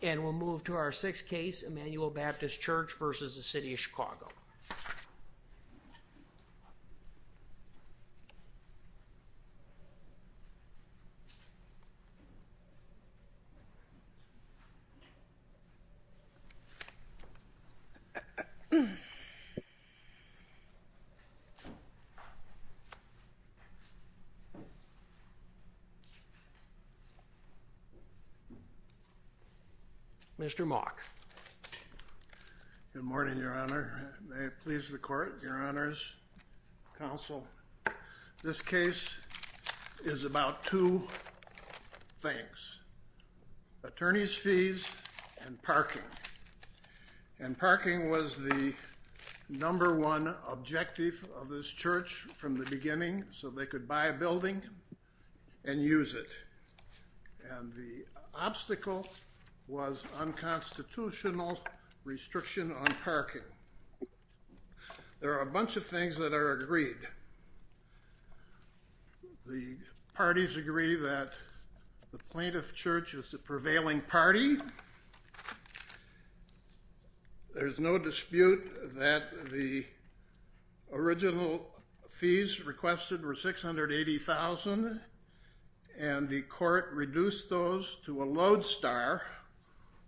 And we'll move to our sixth case, Emmanuel Baptist Church v. City of Chicago. Mr. Mock. Good morning, Your Honor. May it please the court, Your Honor's counsel, this case is about two things. Attorney's fees and parking. And parking was the number one objective of this church from the beginning so they could buy a building and use it. And the obstacle was unconstitutional restriction on parking. There are a bunch of things that are agreed. The parties agree that the plaintiff church is the prevailing party. There's no dispute that the original fees requested were $680,000 and the court reduced those to a load star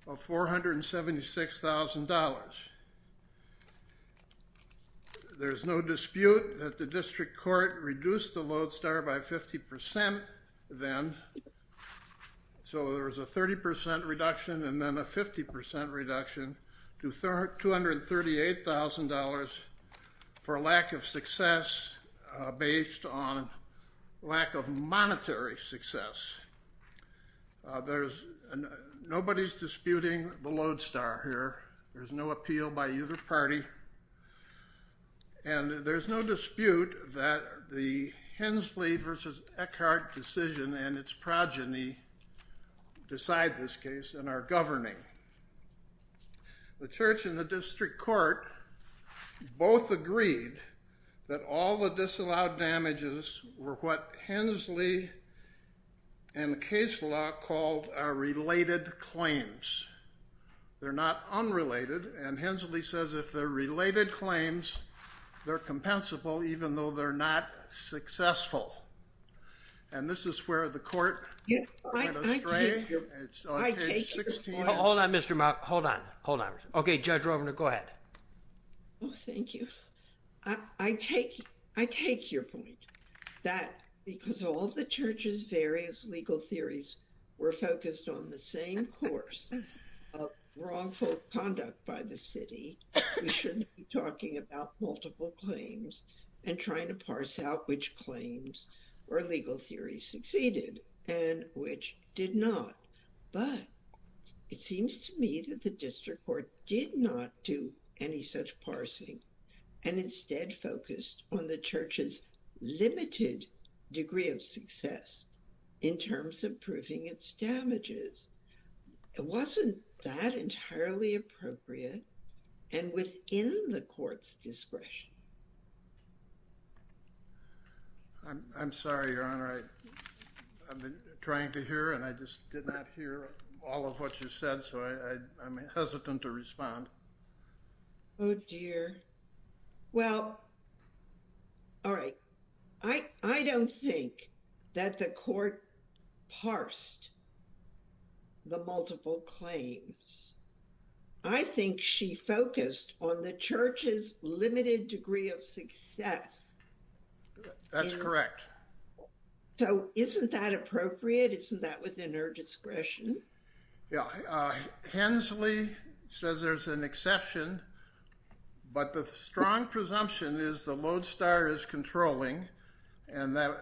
of $476,000. There's no dispute that the district court reduced the load star by 50% then. So there was a 30% reduction and then a 50% reduction to $238,000 for lack of success based on lack of monetary success. There's nobody's disputing the load star here. There's no appeal by either party. And there's no dispute that the Hensley v. Eckhart decision and its progeny decide this case and are governing. The church and the district court both agreed that all the disallowed damages were what Hensley and the case law called are related claims. They're not unrelated and Hensley says if they're related claims they're compensable even though they're not successful. And this is where the court in Australia, it's on page 16. Hold on, Mr. Mark. Hold on. Hold on. Okay, Judge Rovner, go ahead. Thank you. I take your point that because all the church's various legal theories were focused on the same course of wrongful conduct by the city, we shouldn't be talking about multiple claims and trying to parse out which claims or legal theories succeeded and which did not. But it seems to me that the district court did not do any such parsing and instead focused on the church's limited degree of success in terms of proving its damages. It wasn't that entirely appropriate and within the court's discretion. I'm sorry, Your Honor. I've been trying to hear and I just did not hear all of what you said, so I'm hesitant to respond. Oh, dear. Well, all right. I don't think that the court parsed the multiple claims. I think she focused on the church's limited degree of success That's correct. So isn't that appropriate? Isn't that within her discretion? Yeah. Hensley says there's an exception, but the strong presumption is the lodestar is controlling and that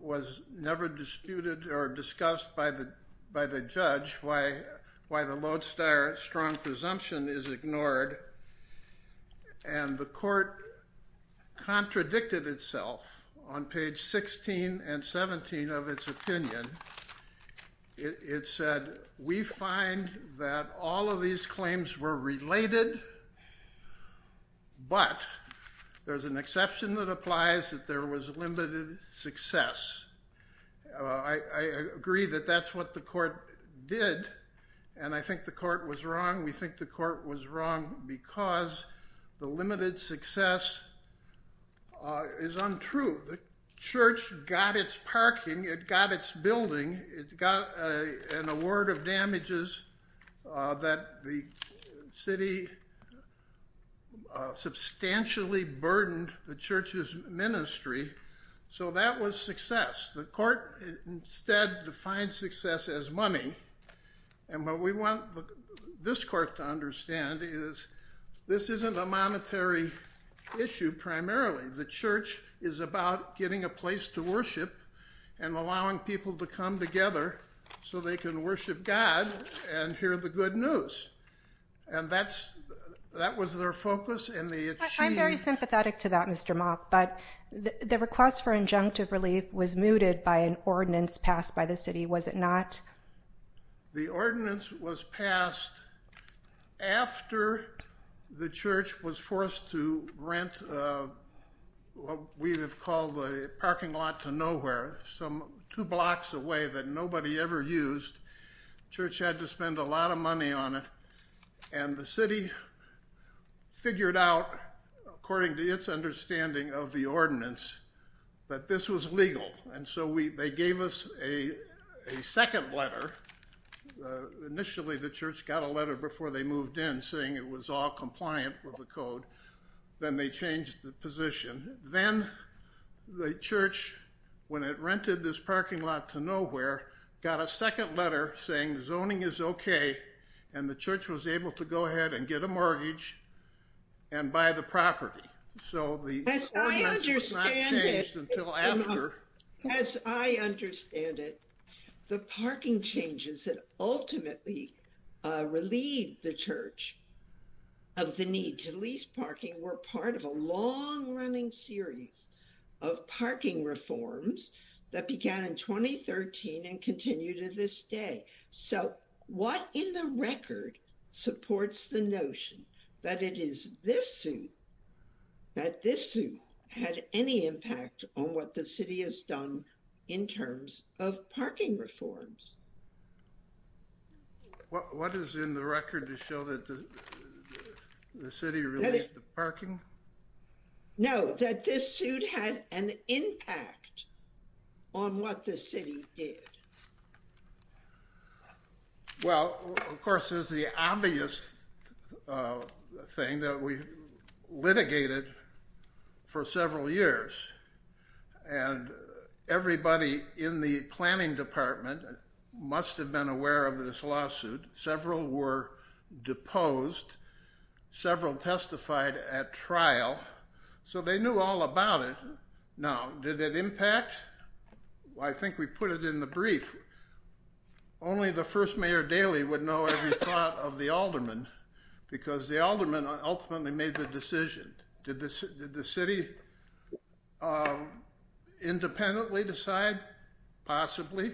was never disputed or discussed by the by the judge why why the lodestar strong presumption is ignored. And the court contradicted itself on page 16 and 17 of its opinion. It said we find that all of these claims were related, but there's an exception that applies that there was limited success. I agree that that's what the court did and I think the court was wrong. We think the court was wrong because the limited success is untrue. The church got its parking. It got its building. It got an award of damages that the city substantially burdened the church's ministry. So that was success. The court instead defined success as money and what we want this court to understand is this isn't a monetary issue primarily. The church is about getting a place to worship and allowing people to come together so they can worship God and hear the good news and that's that was their focus and the I'm very sympathetic to that Mr. Mock, but the request for injunctive relief was mooted by an ordinance passed by the city. Was it not? The ordinance was passed after the church was forced to rent what we have called the parking lot to nowhere some two blocks away that nobody ever used. Church had to spend a lot of money on it and the city figured out according to its understanding of the ordinance that this was legal and so we they gave us a second letter. Initially the church got a letter before they moved in saying it was all compliant with the code then they changed the position then the church when it rented this parking lot to nowhere got a second letter saying zoning is okay and the church was able to go ahead and get a mortgage and buy the property. So the ordinance was not changed until after. As I understand it, the parking changes that ultimately relieved the church of the need to lease parking were part of a long-running series of parking reforms that began in 2013 and continue to this day. So what in the record supports the notion that it is this suit that this suit had any impact on what the city has done in terms of parking reforms? What is in the record to show that the city released the parking? No, that this suit had an impact on what the city did. Well, of course is the obvious thing that we litigated for several years and everybody in the planning department must have been aware of this lawsuit. Several were deposed, several testified at trial, so they knew all about it. Now, did it impact? I think we put it in the brief. Only the first mayor Daley would know every thought of the alderman because the alderman ultimately made the decision. Did the city independently decide? Possibly.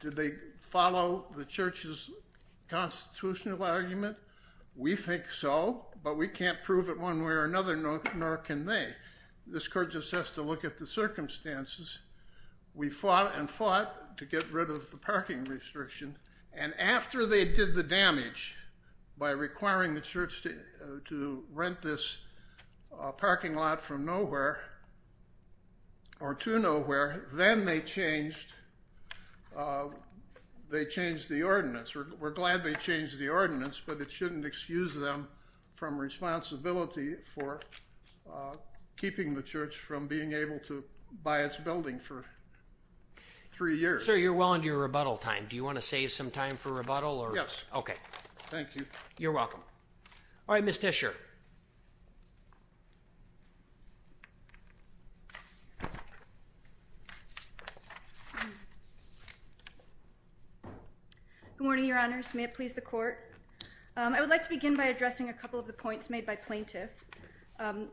Did they follow the church's constitutional argument? We think so, but we can't prove it one way or another, nor can they. This court just has to look at the circumstances. We fought and fought to get rid of the parking restriction, and after they did the damage by requiring the church to rent this parking lot from nowhere or to nowhere, then they changed the ordinance. We're glad they changed the ordinance, but it shouldn't excuse them from responsibility for keeping the church from being able to buy its building for three years. Sir, you're well into your rebuttal time. Do you want to save some time for rebuttal? Yes. Okay. Thank you. You're welcome. All right, Ms. Tisher. Good morning, Your Honors. May it please the court? I would like to begin by addressing a couple of the points made by plaintiff.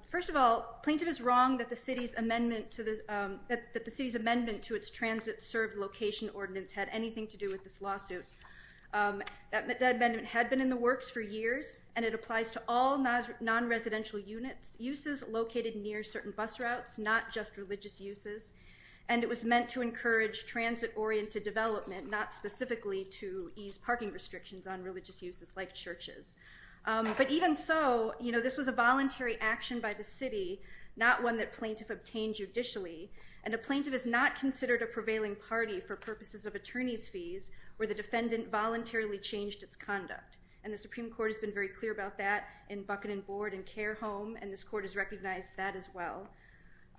First of all, plaintiff is wrong that the city's amendment to its transit-served location ordinance had anything to do with this lawsuit. That amendment had been in the works for years, and it applies to all non-residential units, uses located near certain bus routes, not just religious uses, and it was meant to encourage transit-oriented development, not specifically to ease parking restrictions on religious uses like churches. But even so, you know, this was a voluntary action by the city, not one that plaintiff obtained judicially, and a plaintiff is not considered a prevailing party for purposes of attorney's fees where the defendant voluntarily changed its conduct, and the Supreme Court has been very clear about that in Bucket and Board and Care Home, and this court has recognized that as well.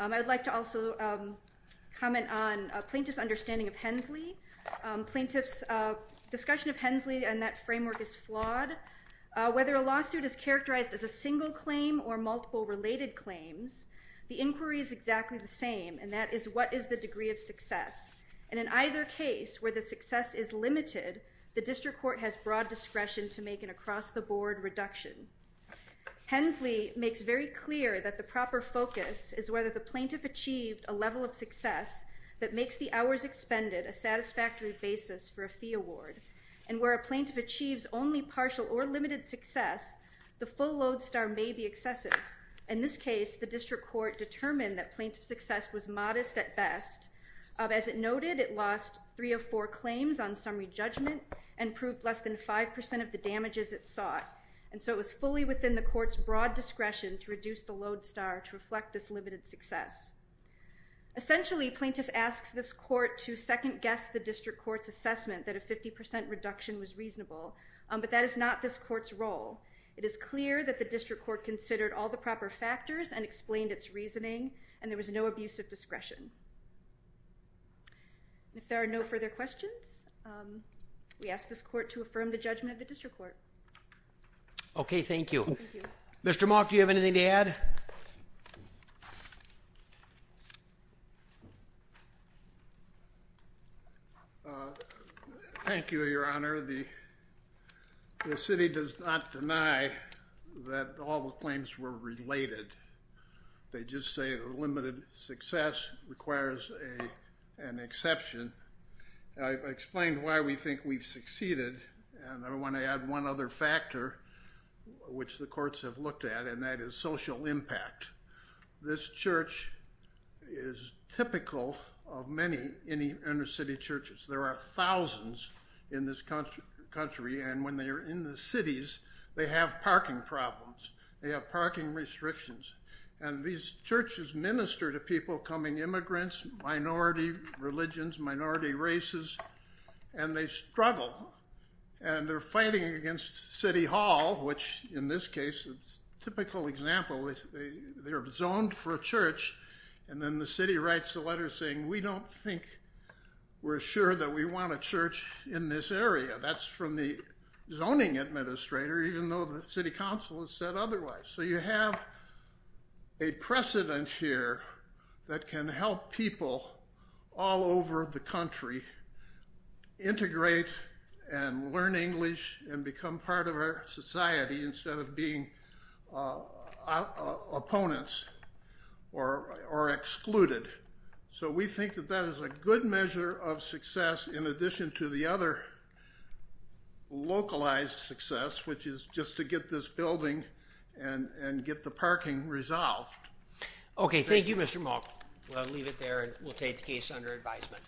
I would like to also comment on plaintiff's understanding of Hensley. Plaintiff's discussion of Hensley and that framework is flawed. Whether a lawsuit is characterized as a single claim or multiple related claims, the inquiry is exactly the same, and that is what is the degree of success, and in either case where the success is limited, the district court has broad discretion to make an across-the-board reduction. Hensley makes very clear that the proper focus is whether the plaintiff achieved a level of success that makes the hours expended a satisfactory basis for a fee award, and where a plaintiff achieves only partial or limited success, the full Lodestar may be excessive. In this case, the district court determined that plaintiff's success was modest at best. As it noted, it lost three of four claims on summary judgment and proved less than five percent of the damages it sought, and so it was fully within the court's broad discretion to reduce the Lodestar to reflect this limited success. Essentially, plaintiff asks this court to second-guess the district court's assessment that a 50% reduction was reasonable, but that is not this court's role. It is clear that the district court considered all the proper factors and explained its reasoning, and there was no abuse of discretion. If there are no further questions, we ask this court to affirm the judgment of the district court. Okay, thank you. Mr. Mock, do you have anything to add? Thank you, Your Honor. The city does not deny that all the claims were related. They just say a limited success requires an exception. I've explained why we think we've succeeded, and I want to add one other factor which the courts have looked at, and that is social impact. This church is typical of many inner-city churches. There are thousands in this country, and when they are in the cities, they have parking problems. They have parking restrictions, and these churches minister to people coming immigrants, minority religions, minority races, and they struggle, and they're fighting against City Hall, which in this case is a typical example. They're zoned for a church, and then the city writes a letter saying we don't think we're sure that we want a church in this area. That's from the zoning administrator, even though the City Council has said otherwise. So you have a precedent here that can help people all over the country integrate and learn English and become part of our society instead of being opponents or excluded. So we think that that is a good measure of success in addition to the other localized success, which is just to get this building and get the parking resolved. Okay, thank you, Mr. Moak. We'll leave it there, and we'll take the case under advisement.